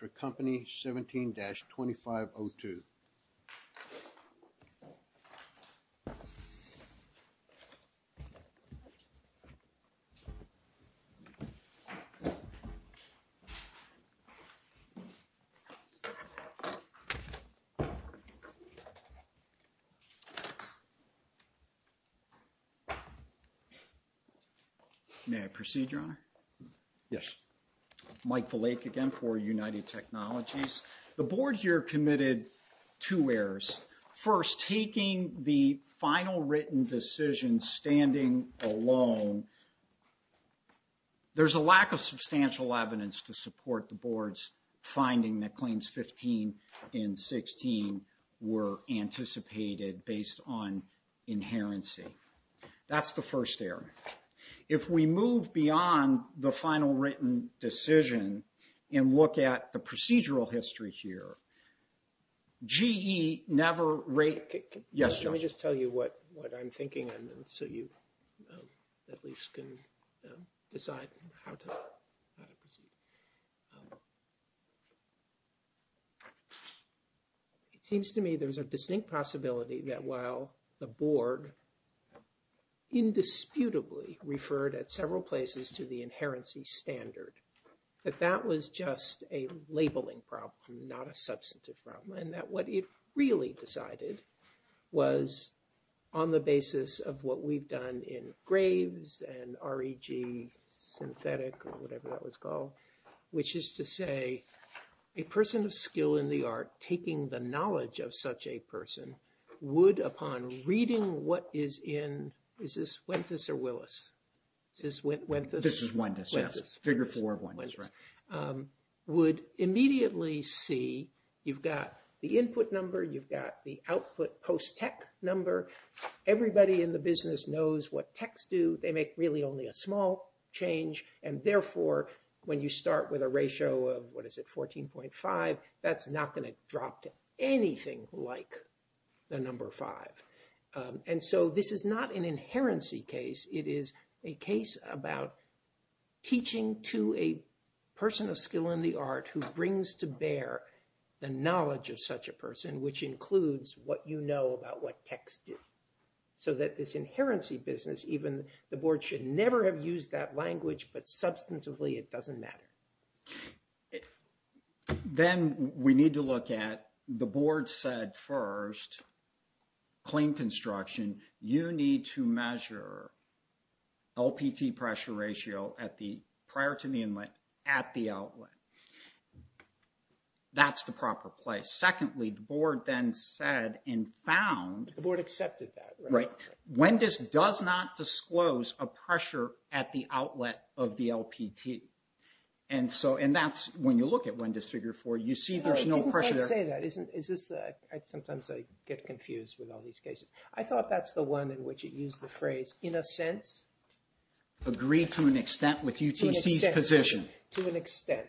17-2502 May I proceed, Your Honor? Yes. Mike Valake again for United Technologies. The board here committed two errors. First, taking the final written decision standing alone, there's a lack of substantial evidence to support the board's finding that claims 15 and 16 were anticipated based on inherency. That's the first error. If we move beyond the final written decision and look at the procedural history here, GE never rate... Yes, Judge. Let me just tell you what I'm thinking, so you at least can decide how to proceed. It seems to me there's a distinct possibility that while the board indisputably referred at several places to the inherency standard, that that was just a labeling problem, not a substantive problem, and that what it really decided was on the basis of what we've done in Graves and REG Synthetic or whatever that was called, which is to say a person of skill in the art of taking the knowledge of such a person would, upon reading what is in... Is this Wenthes or Willis? This is Wenthes. This is Wentes, yes. Figure four of Wentes, right. Would immediately see you've got the input number, you've got the output post-tech number. Everybody in the business knows what techs do. They make really only a small change, and therefore when you start with a ratio of, what is it, 14.5, that's not going to drop to anything like the number five. And so this is not an inherency case. It is a case about teaching to a person of skill in the art who brings to bear the knowledge of such a person, which includes what you know about what techs do, so that this inherency business, even the board should never have used that language, but substantively it doesn't matter. Then we need to look at, the board said first, clean construction, you need to measure LPT pressure ratio prior to the inlet at the outlet. That's the proper place. Secondly, the board then said and found... The board accepted that. Right. Wentes does not disclose a pressure at the outlet of the LPT. And that's when you look at Wentes Figure 4, you see there's no pressure there. I didn't quite say that. Sometimes I get confused with all these cases. I thought that's the one in which it used the phrase, in a sense. Agreed to an extent with UTC's position. To an extent.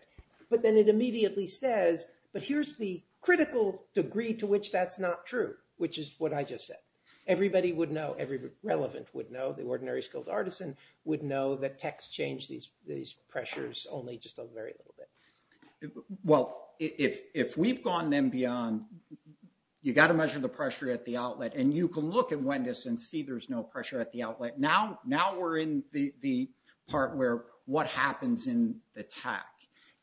But then it immediately says, but here's the critical degree to which that's not true, which is what I just said. Everybody would know, everyone relevant would know, the ordinary skilled artisan would know that techs change these pressures only just a very little bit. Well, if we've gone then beyond, you've got to measure the pressure at the outlet. And you can look at Wentes and see there's no pressure at the outlet. Now we're in the part where what happens in the tech.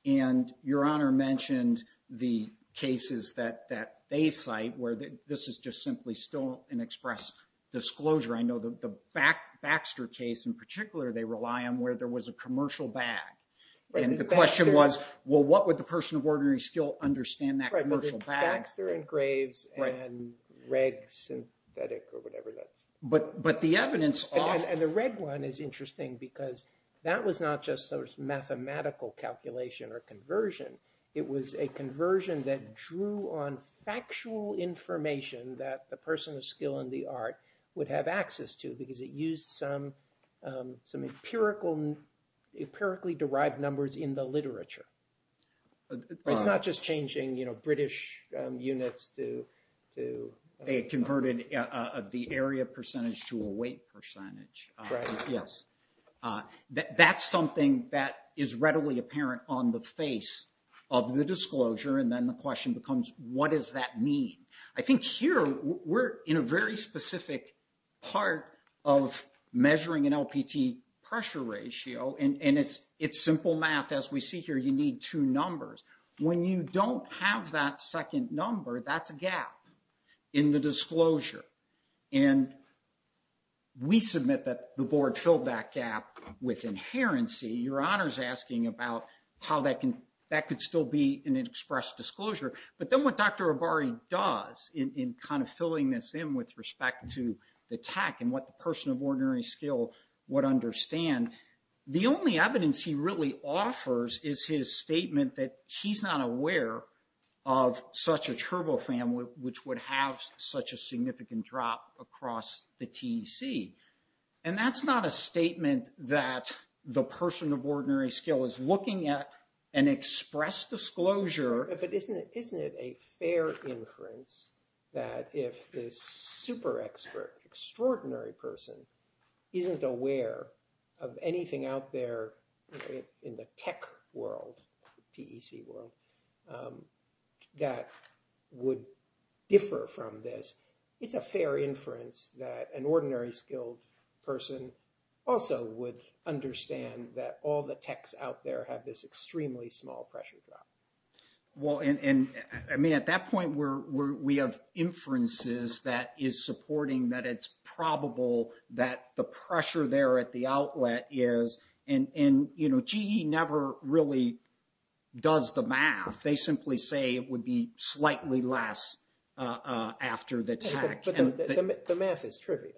And Your Honor mentioned the cases that they cite where this is just simply still an express disclosure. I know the Baxter case in particular, they rely on where there was a commercial bag. And the question was, well, what would the person of ordinary skill understand that commercial bag? Baxter engraves and reg synthetic or whatever that's... But the evidence... And the reg one is interesting because that was not just those mathematical calculation or conversion. It was a conversion that drew on factual information that the person of skill in the art would have access to because it used some empirically derived numbers in the literature. It's not just changing British units to... They converted the area percentage to a weight percentage. Right. Yes. That's something that is readily apparent on the face of the disclosure. And then the question becomes, what does that mean? I think here we're in a very specific part of measuring an LPT pressure ratio. And it's simple math. As we see here, you need two numbers. When you don't have that second number, that's a gap in the disclosure. And we submit that the board filled that gap with inherency. Your Honor's asking about how that could still be an express disclosure. But then what Dr. Abari does in kind of filling this in with respect to the tech and what the person of ordinary skill would understand, the only evidence he really offers is his statement that he's not aware of such a turbofan, which would have such a significant drop across the TEC. And that's not a statement that the person of ordinary skill is looking at an express disclosure... Isn't it a fair inference that if this super expert, extraordinary person, isn't aware of anything out there in the tech world, TEC world, that would differ from this, it's a fair inference that an ordinary skilled person also would understand that all the techs out there have this extremely small pressure drop. Well, and I mean, at that point, we have inferences that is supporting that it's probable that the pressure there at the outlet is... And, you know, GE never really does the math. They simply say it would be slightly less after the tech. But the math is trivial.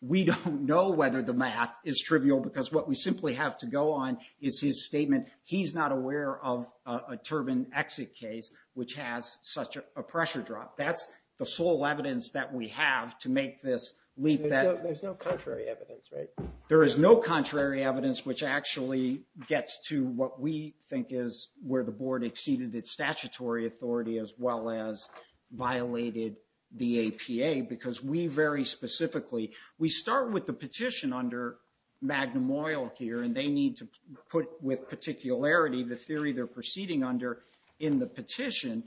We don't know whether the math is trivial because what we simply have to go on is his statement, he's not aware of a turbine exit case, which has such a pressure drop. That's the sole evidence that we have to make this leap that... There's no contrary evidence, right? There is no contrary evidence which actually gets to what we think is where the board exceeded its statutory authority as well as violated the APA because we very specifically... We start with the petition under Magnum Oil here, and they need to put with particularity the theory they're proceeding under in the petition,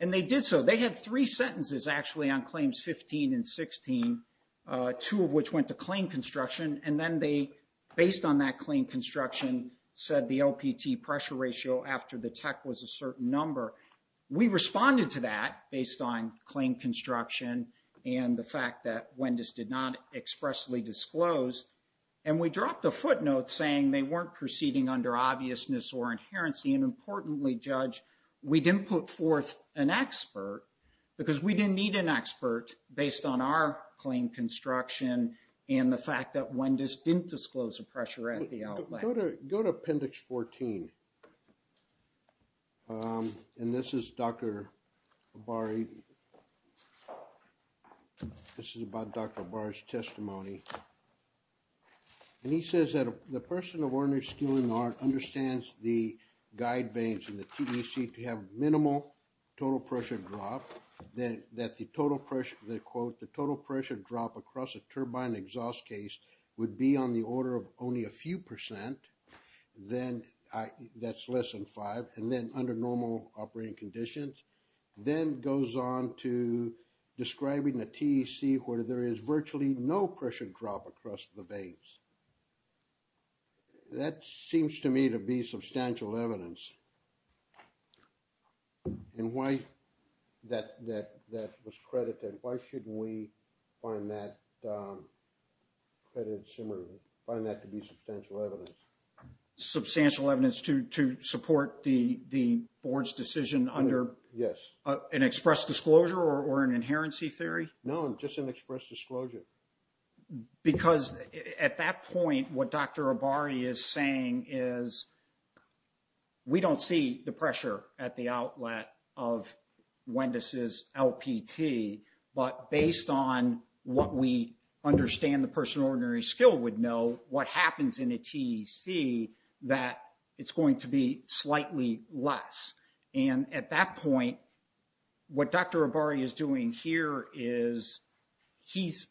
and they did so. They had three sentences actually on claims 15 and 16, two of which went to claim construction, and then they, based on that claim construction, said the LPT pressure ratio after the tech was a certain number. We responded to that based on claim construction and the fact that Wendis did not expressly disclose, and we dropped a footnote saying they weren't proceeding under obviousness or inherency, and importantly, Judge, we didn't put forth an expert because we didn't need an expert based on our claim construction and the fact that Wendis didn't disclose the pressure at the outlet. Go to appendix 14, and this is Dr. Abari. This is about Dr. Abari's testimony. And he says that the person of ordinary skill and art understands the guide vanes in the TEC to have minimal total pressure drop, that the total pressure drop across a turbine exhaust case would be on the order of only a few percent, that's less than five, and then under normal operating conditions, then goes on to describing the TEC where there is virtually no pressure drop across the vanes. That seems to me to be substantial evidence, and why that was credited. Why shouldn't we find that to be substantial evidence? Substantial evidence to support the board's decision under an express disclosure or an inherency theory? No, just an express disclosure. Because at that point, what Dr. Abari is saying is, we don't see the pressure at the outlet of Wendis' LPT, but based on what we understand the person of ordinary skill would know, what happens in a TEC, that it's going to be slightly less. And at that point, what Dr. Abari is doing here is, he's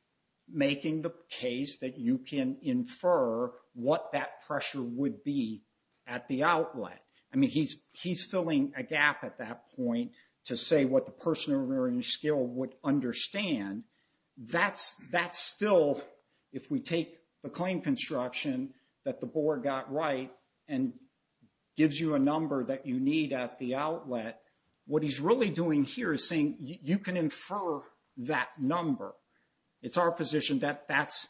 making the case that you can infer what that pressure would be at the outlet. I mean, he's filling a gap at that point to say what the person of ordinary skill would understand. That's still, if we take the claim construction that the board got right and gives you a number that you need at the outlet, what he's really doing here is saying, you can infer that number. It's our position that that's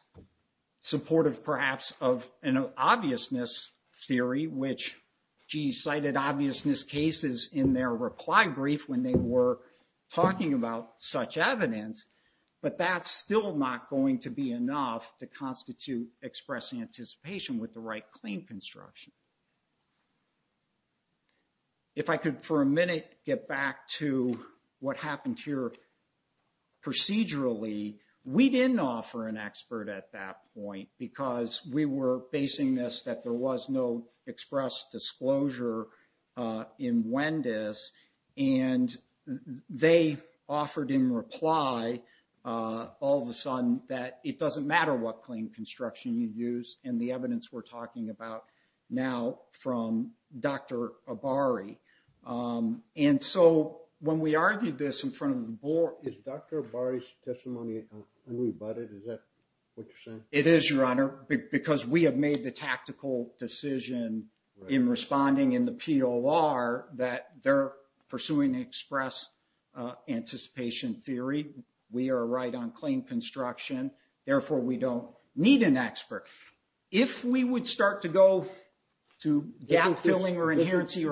supportive, perhaps, of an obviousness theory, which GE cited obviousness cases in their reply brief when they were talking about such evidence. But that's still not going to be enough to constitute express anticipation with the right claim construction. If I could for a minute get back to what happened here procedurally, we didn't offer an expert at that point because we were basing this that there was no express disclosure in Wendis, that it doesn't matter what claim construction you use and the evidence we're talking about now from Dr. Abari. And so when we argued this in front of the board... Is Dr. Abari's testimony unrebutted? Is that what you're saying? It is, Your Honor, because we have made the tactical decision in responding in the POR that they're pursuing express anticipation theory. We are right on claim construction. Therefore, we don't need an expert. If we would start to go to gap-filling or inherency...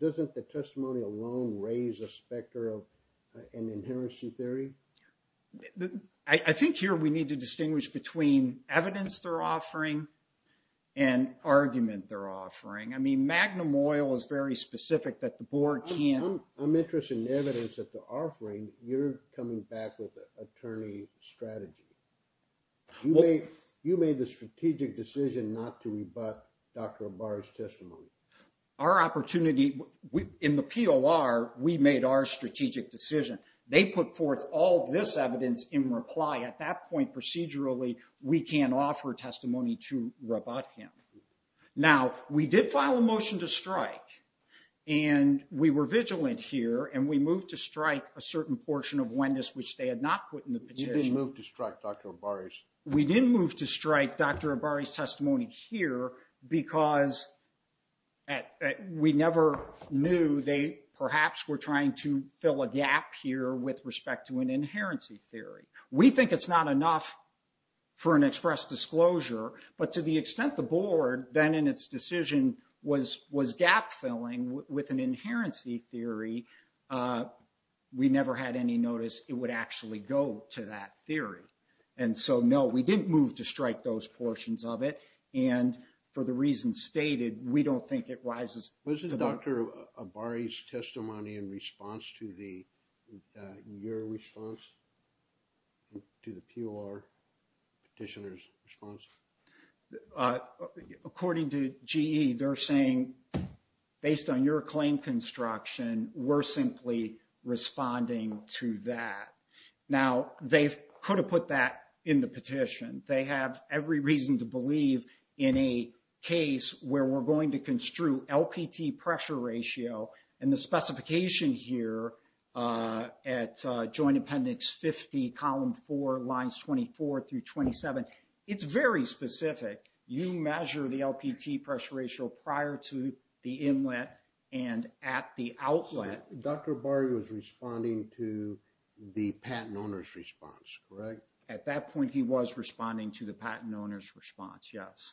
Doesn't the testimony alone raise a specter of an inherency theory? I think here we need to distinguish between evidence they're offering and argument they're offering. I mean, Magnum Oil is very specific that the board can't... I'm interested in evidence that they're offering. You're coming back with an attorney strategy. You made the strategic decision not to rebut Dr. Abari's testimony. Our opportunity in the POR, we made our strategic decision. They put forth all this evidence in reply. At that point, procedurally, we can offer testimony to rebut him. Now, we did file a motion to strike, and we were vigilant here, and we moved to strike a certain portion of Wendis, which they had not put in the petition. You didn't move to strike Dr. Abari's. We didn't move to strike Dr. Abari's testimony here because we never knew they perhaps were trying to fill a gap here with respect to an inherency theory. We think it's not enough for an express disclosure, but to the extent the board then in its decision was gap-filling with an inherency theory, we never had any notice it would actually go to that theory. And so, no, we didn't move to strike those portions of it, and for the reasons stated, we don't think it rises to that. Wasn't Dr. Abari's testimony in response to your response to the POR petitioner's response? According to GE, they're saying, based on your claim construction, we're simply responding to that. Now, they could have put that in the petition. They have every reason to believe in a case where we're going to construe LPT pressure ratio and the specification here at Joint Appendix 50, Column 4, Lines 24 through 27. It's very specific. You measure the LPT pressure ratio prior to the inlet and at the outlet. So Dr. Abari was responding to the patent owner's response, correct? At that point, he was responding to the patent owner's response, yes.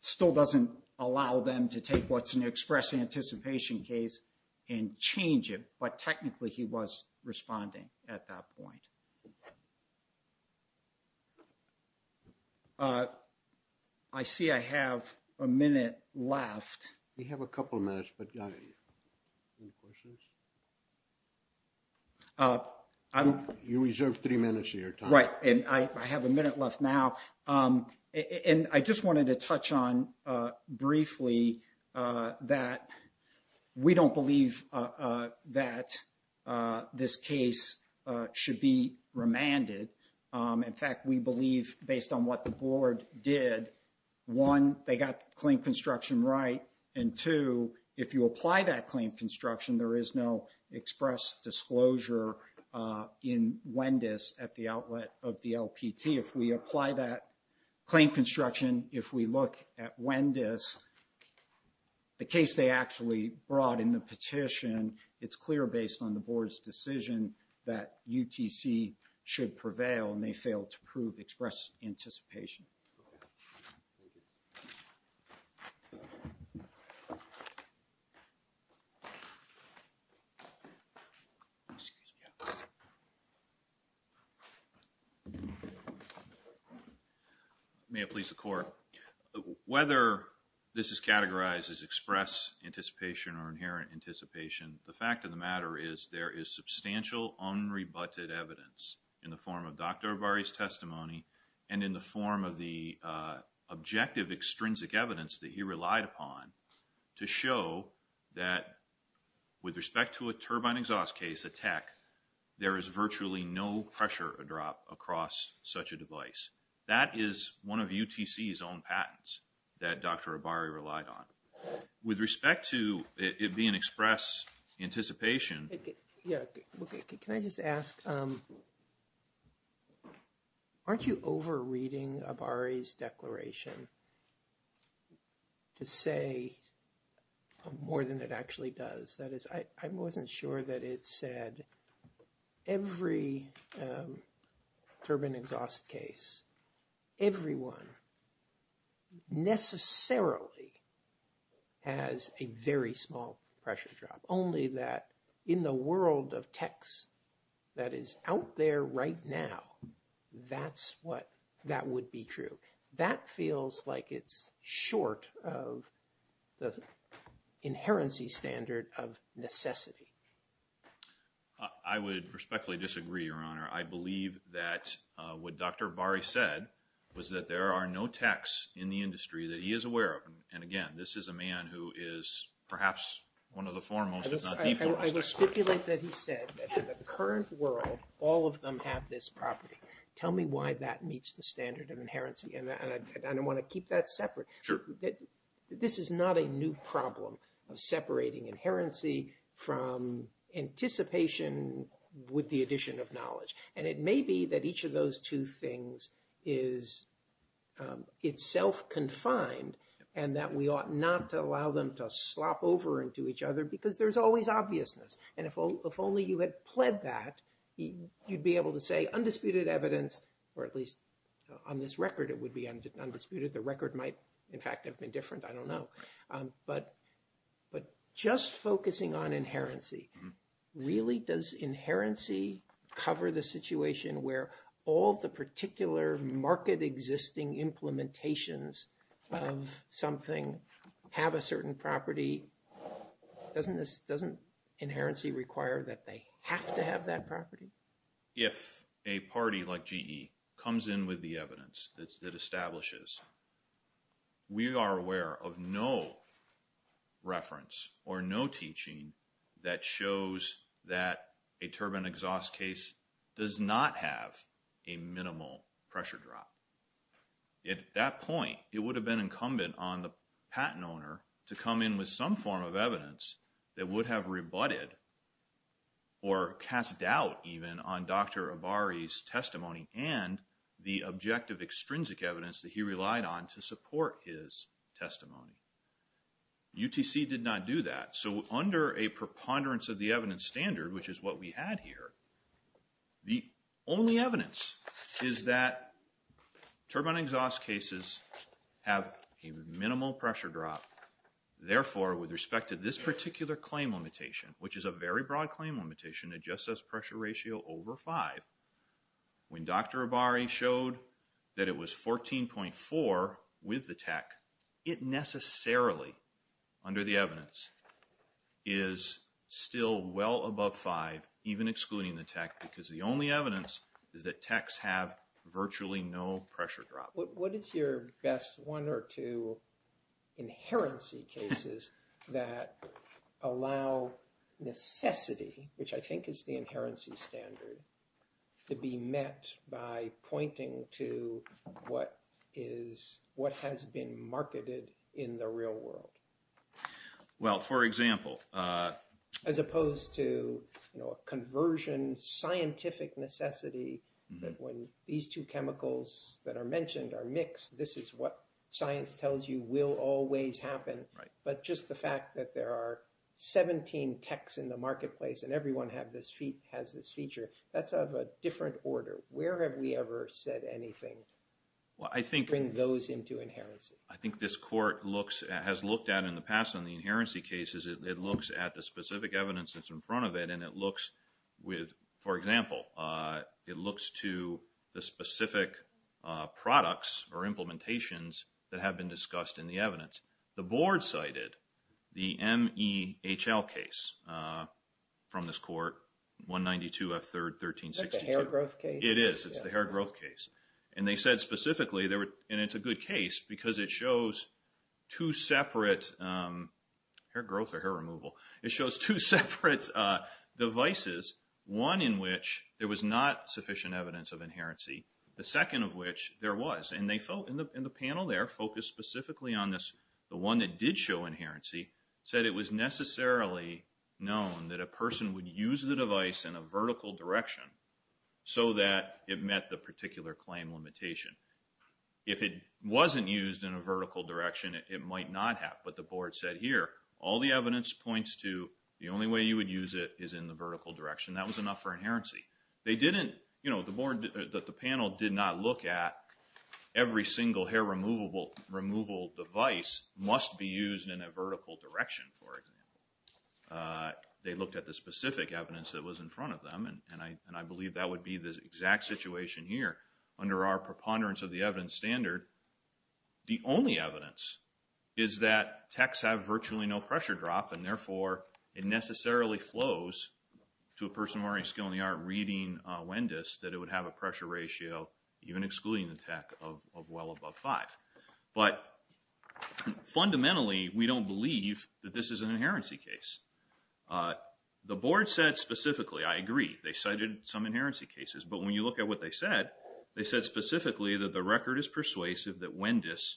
Still doesn't allow them to take what's an express anticipation case and change it, but technically he was responding at that point. I see I have a minute left. We have a couple of minutes, but any questions? You reserved three minutes of your time. Right, and I have a minute left now. And I just wanted to touch on briefly that we don't believe that this case should be remanded. In fact, we believe, based on what the board did, one, they got the claim construction right, and two, if you apply that claim construction, there is no express disclosure in WENDIS at the outlet of the LPT. If we apply that claim construction, if we look at WENDIS, the case they actually brought in the petition, it's clear based on the board's decision that UTC should prevail and they failed to prove express anticipation. May it please the court, whether this is categorized as express anticipation or inherent anticipation, the fact of the matter is there is substantial unrebutted evidence in the form of Dr. Abari's testimony and in the form of the objective extrinsic evidence that he relied upon to show that with respect to a turbine exhaust case, a TEC, there is virtually no pressure drop across such a device. That is one of UTC's own patents that Dr. Abari relied on. With respect to it being express anticipation... Yeah, can I just ask, aren't you over-reading Abari's declaration to say more than it actually does? That is, I wasn't sure that it said every turbine exhaust case, everyone necessarily has a very small pressure drop, only that in the world of TECs that is out there right now, that would be true. That feels like it's short of the inherency standard of necessity. I would respectfully disagree, Your Honor. I believe that what Dr. Abari said was that there are no TECs in the industry that he is aware of. Again, this is a man who is perhaps one of the foremost, if not the foremost. I will stipulate that he said that in the current world, all of them have this property. Tell me why that meets the standard of inherency. I want to keep that separate. This is not a new problem of separating inherency from anticipation with the addition of knowledge. And it may be that each of those two things is itself confined and that we ought not to allow them to slop over into each other because there's always obviousness. And if only you had pled that, you'd be able to say undisputed evidence, or at least on this record it would be undisputed. The record might, in fact, have been different. I don't know. But just focusing on inherency, really does inherency cover the situation where all the particular market existing implementations of something have a certain property? Doesn't inherency require that they have to have that property? If a party like GE comes in with the evidence that establishes we are aware of no reference or no teaching that shows that a turbine exhaust case does not have a minimal pressure drop. At that point, it would have been incumbent on the patent owner to come in with some form of evidence that would have rebutted or cast doubt even on Dr. Abari's testimony and the objective extrinsic evidence that he relied on to support his testimony. UTC did not do that. So under a preponderance of the evidence standard, which is what we had here, the only evidence is that turbine exhaust cases have a minimal pressure drop. Therefore, with respect to this particular claim limitation, which is a very broad claim limitation, it just says pressure ratio over 5. When Dr. Abari showed that it was 14.4 with the tech, it necessarily, under the evidence, is still well above 5, even excluding the tech, because the only evidence is that techs have virtually no pressure drop. What is your best one or two inherency cases that allow necessity, which I think is the inherency standard, to be met by pointing to what has been marketed in the real world? Well, for example. As opposed to a conversion scientific necessity that when these two chemicals that are mentioned are mixed, this is what science tells you will always happen. But just the fact that there are 17 techs in the marketplace and everyone has this feature, that's of a different order. Where have we ever said anything to bring those into inherency? I think this court has looked at, in the past, in the inherency cases, it looks at the specific evidence that's in front of it and it looks with, for example, it looks to the specific products or implementations that have been discussed in the evidence. The board cited the MEHL case from this court, 192 F. 3rd, 1362. Is that the hair growth case? It is. It's the hair growth case. And they said specifically, and it's a good case, because it shows two separate devices, one in which there was not sufficient evidence of inherency, the second of which there was. And the panel there focused specifically on this. The one that did show inherency said it was necessarily known that a person would use the device in a vertical direction so that it met the particular claim limitation. If it wasn't used in a vertical direction, it might not have. But the board said, here, all the evidence points to the only way you would use it is in the vertical direction. That was enough for inherency. The panel did not look at every single hair removal device must be used in a vertical direction, for example. They looked at the specific evidence that was in front of them, and I believe that would be the exact situation here under our preponderance of the evidence standard. The only evidence is that techs have virtually no pressure drop, and therefore it necessarily flows to a person already skilled in the art reading WENDIS, that it would have a pressure ratio, even excluding the tech, of well above 5. But fundamentally, we don't believe that this is an inherency case. The board said specifically, I agree, they cited some inherency cases, but when you look at what they said, they said specifically that the record is persuasive that WENDIS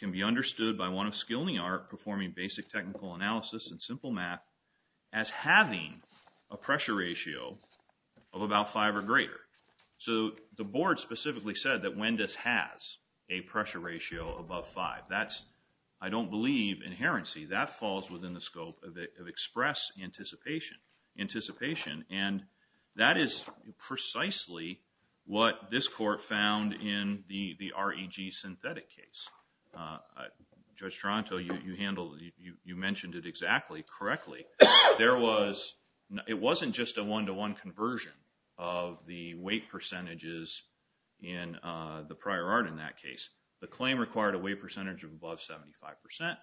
can be understood by one of skilled in the art performing basic technical analysis and simple math as having a pressure ratio of about 5 or greater. So the board specifically said that WENDIS has a pressure ratio above 5. That's, I don't believe, inherency. That falls within the scope of express anticipation, and that is precisely what this court found in the REG synthetic case. Judge Toronto, you handled, you mentioned it exactly, correctly. There was, it wasn't just a one-to-one conversion of the weight percentages in the prior art in that case. The claim required a weight percentage of above 75%.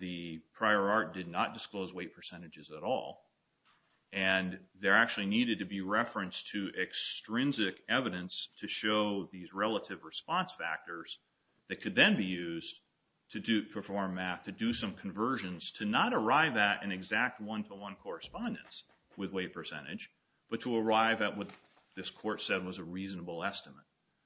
The prior art did not disclose weight percentages at all, and there actually needed to be reference to extrinsic evidence to show these relative response factors that could then be used to perform math, to do some conversions, to not arrive at an exact one-to-one correspondence with weight percentage, but to arrive at what this court said was a reasonable estimate.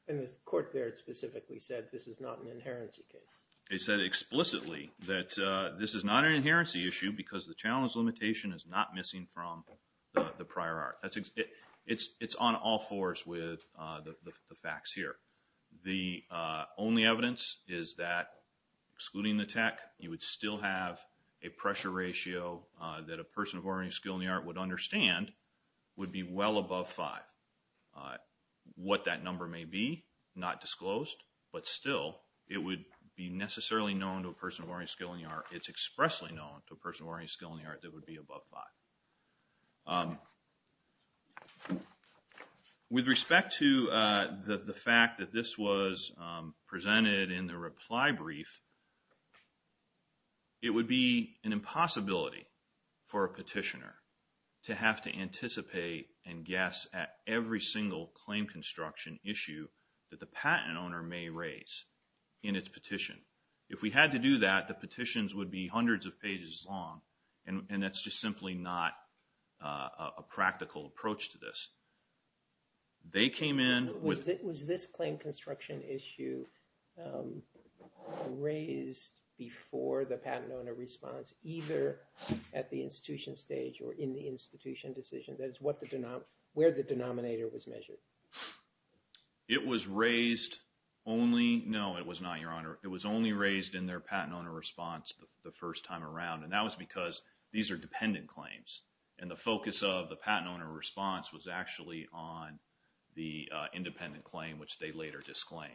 And this court there specifically said this is not an inherency case. They said explicitly that this is not an inherency issue because the challenge limitation is not missing from the prior art. It's on all fours with the facts here. The only evidence is that, excluding the tech, you would still have a pressure ratio that a person of ornery skill in the art would understand would be well above five. What that number may be, not disclosed, but still, it would be necessarily known to a person of ornery skill in the art. It's expressly known to a person of ornery skill in the art that would be above five. With respect to the fact that this was presented in the reply brief, it would be an impossibility for a petitioner to have to anticipate and guess at every single claim construction issue that the patent owner may raise in its petition. If we had to do that, the petitions would be hundreds of pages long and that's just simply not a practical approach to this. They came in with... Was this claim construction issue raised before the patent owner response, either at the institution stage or in the institution decision? That is where the denominator was measured. It was raised only... No, it was not, Your Honor. It was only raised in their patent owner response the first time around and that was because these are dependent claims and the focus of the patent owner response was actually on the independent claim, which they later disclaimed.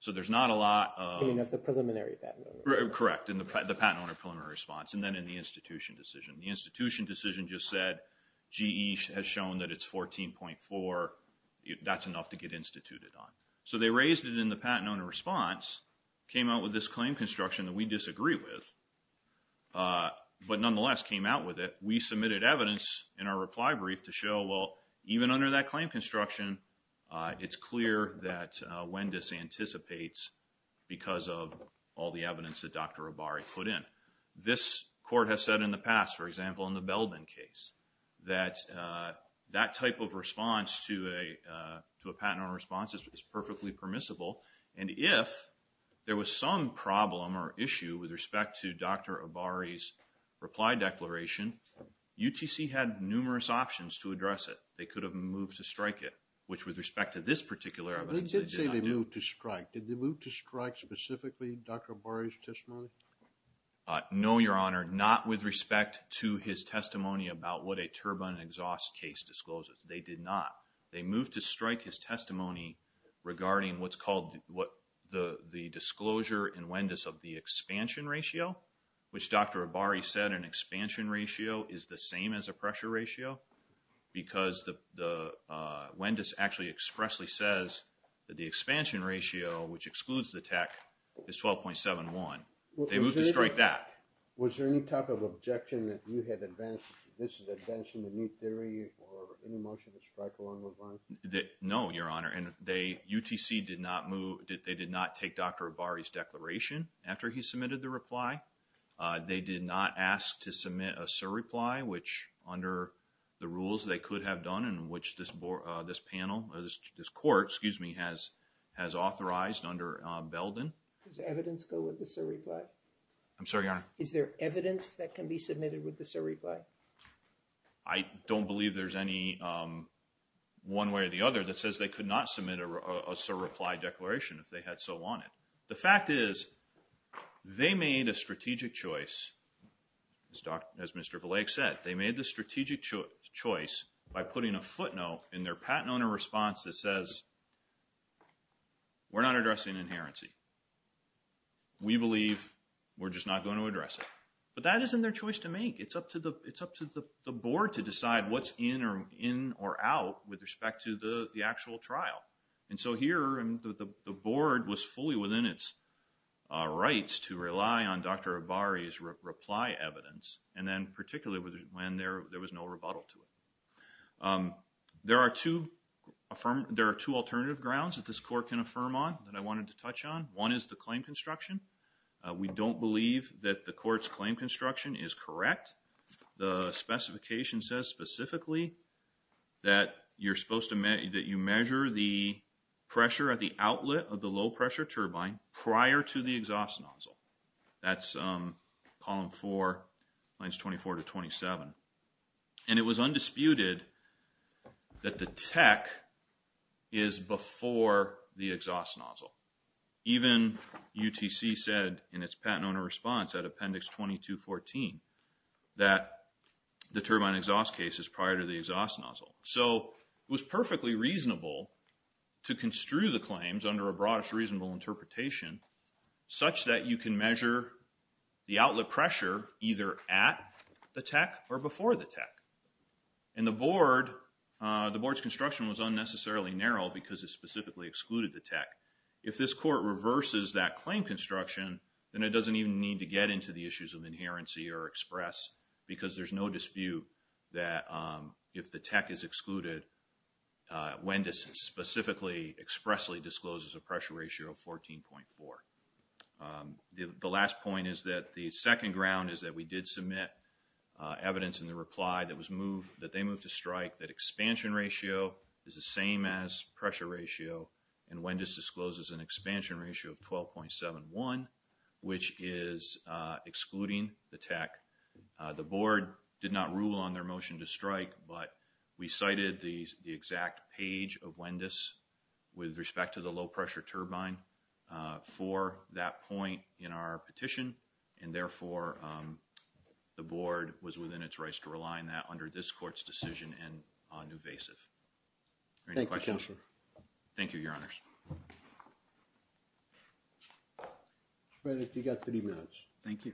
So there's not a lot of... In the preliminary patent owner response. Correct, in the patent owner preliminary response and then in the institution decision. The institution decision just said, GE has shown that it's 14.4, that's enough to get instituted on. So they raised it in the patent owner response, came out with this claim construction that we disagree with, but nonetheless came out with it. We submitted evidence in our reply brief to show, well, even under that claim construction, it's clear that Wendis anticipates because of all the evidence that Dr. Obari put in. This court has said in the past, for example, in the Belbin case, that that type of response to a patent owner response is perfectly permissible and if there was some problem or issue with respect to Dr. Obari's reply declaration, UTC had numerous options to address it. They could have moved to strike it, which with respect to this particular event... They did say they moved to strike. Did they move to strike specifically Dr. Obari's testimony? No, Your Honor. Not with respect to his testimony about what a turbine exhaust case discloses. They did not. They moved to strike his testimony regarding what's called the disclosure in Wendis of the expansion ratio, which Dr. Obari said an expansion ratio is the same as a pressure ratio because Wendis actually expressly says that the expansion ratio, which excludes the tech, is 12.71. They moved to strike that. Was there any type of objection that you had advanced? This is a new theory or any motion to strike along with mine? No, Your Honor. UTC did not take Dr. Obari's declaration after he submitted the reply. They did not ask to submit a surreply, which under the rules they could have done and which this panel, this court, excuse me, has authorized under Belbin. Does evidence go with the surreply? I'm sorry, Your Honor. Is there evidence that can be submitted with the surreply? I don't believe there's any one way or the other that says they could not submit a surreply declaration if they had so wanted. The fact is they made a strategic choice, as Mr. Villeig said. They made the strategic choice by putting a footnote in their patent owner response that says we're not addressing inherency. We believe we're just not going to address it. But that isn't their choice to make. It's up to the board to decide what's in or out with respect to the actual trial. And so here, the board was fully within its rights to rely on Dr. Obari's reply evidence, and then particularly when there was no rebuttal to it. There are two alternative grounds that this court can affirm on that I wanted to touch on. One is the claim construction. We don't believe that the court's claim construction is correct. The specification says specifically that you measure the pressure at the outlet of the low-pressure turbine prior to the exhaust nozzle. That's column 4, lines 24 to 27. And it was undisputed that the tech is before the exhaust nozzle. Even UTC said in its patent owner response at Appendix 2214 that the turbine exhaust case is prior to the exhaust nozzle. So it was perfectly reasonable to construe the claims under a broadest reasonable interpretation such that you can measure the outlet pressure either at the tech or before the tech. And the board's construction was unnecessarily narrow because it specifically excluded the tech. If this court reverses that claim construction, then it doesn't even need to get into the issues of inherency or express because there's no dispute that if the tech is excluded, WENDIS specifically expressly discloses a pressure ratio of 14.4. The last point is that the second ground is that we did submit evidence in the reply that they moved to strike that expansion ratio is the same as pressure ratio and WENDIS discloses an expansion ratio of 12.71, which is excluding the tech. The board did not rule on their motion to strike, but we cited the exact page of WENDIS with respect to the low pressure turbine for that point in our petition. And therefore, the board was within its rights to rely on that under this court's decision and on invasive. Thank you, Counselor. Thank you, Your Honors. Thank you.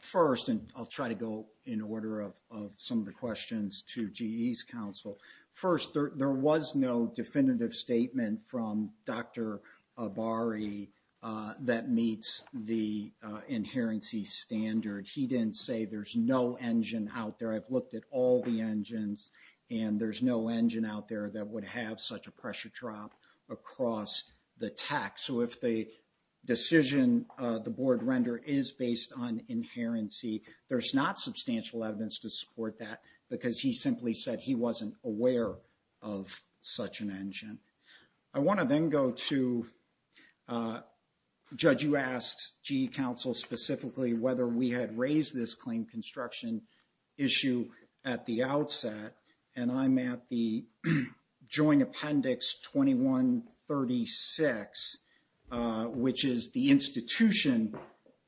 First, and I'll try to go in order of some of the questions to GE's counsel. First, there was no definitive statement from Dr. Abari that meets the inherency standard. He didn't say there's no engine out there. I've looked at all the engines and there's no engine out there that would have such a pressure drop across the tech. So if the decision the board render is based on inherency, there's not substantial evidence to support that because he simply said he wasn't aware of such an engine. I want to then go to, Judge, you asked GE counsel specifically whether we had raised this claim construction issue at the outset. And I'm at the Joint Appendix 2136, which is the institution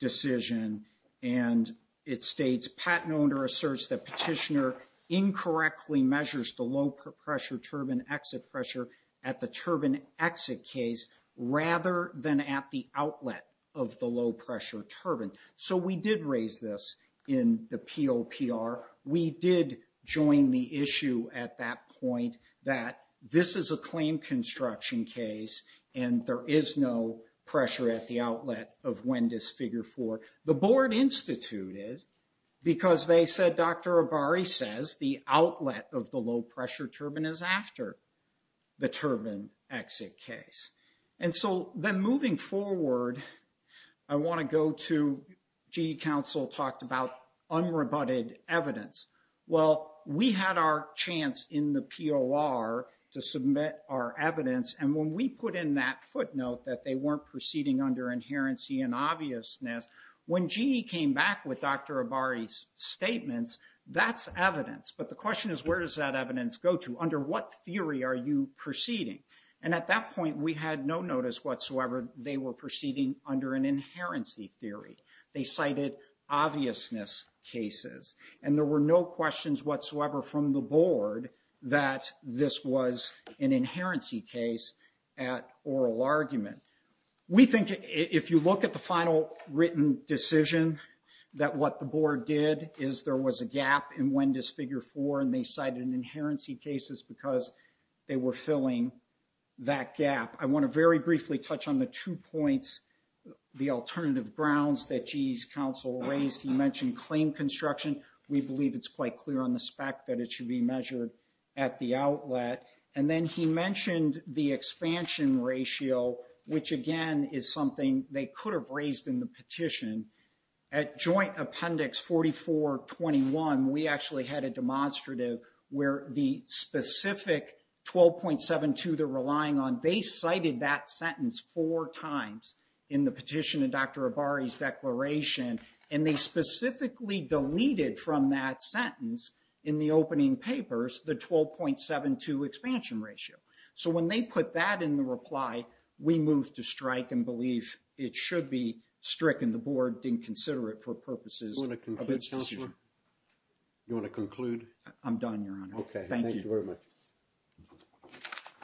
decision. And it states, patent owner asserts that petitioner incorrectly measures the low-pressure turbine exit pressure at the turbine exit case rather than at the outlet of the low-pressure turbine. So we did raise this in the POPR. We did join the issue at that point that this is a claim construction case and there is no pressure at the outlet of WENDIS Figure 4. The board instituted because they said, Dr. Abari says the outlet of the low-pressure turbine is after the turbine exit case. And so then moving forward, I want to go to, GE counsel talked about unrebutted evidence. Well, we had our chance in the POR to submit our evidence. And when we put in that footnote that they weren't proceeding under inherency and obviousness, when GE came back with Dr. Abari's statements, that's evidence. But the question is, where does that evidence go to? Under what theory are you proceeding? And at that point, we had no notice whatsoever they were proceeding under an inherency theory. They cited obviousness cases. And there were no questions whatsoever from the board that this was an inherency case at oral argument. We think if you look at the final written decision, that what the board did is there was a gap in WENDIS Figure 4 and they cited inherency cases because they were filling that gap. I want to very briefly touch on the two points, the alternative grounds that GE's counsel raised. He mentioned claim construction. We believe it's quite clear on the spec that it should be measured at the outlet. And then he mentioned the expansion ratio, which again is something they could have raised in the petition. At Joint Appendix 4421, we actually had a demonstrative where the specific 12.72 they're relying on, they cited that sentence four times in the petition and Dr. Abari's declaration. And they specifically deleted from that sentence in the opening papers, the 12.72 expansion ratio. So when they put that in the reply, we moved to strike and believe it should be stricken. The board didn't consider it for purposes of its decision. You want to conclude? I'm done, Your Honor. Okay, thank you very much.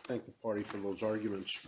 Thank the party for those arguments.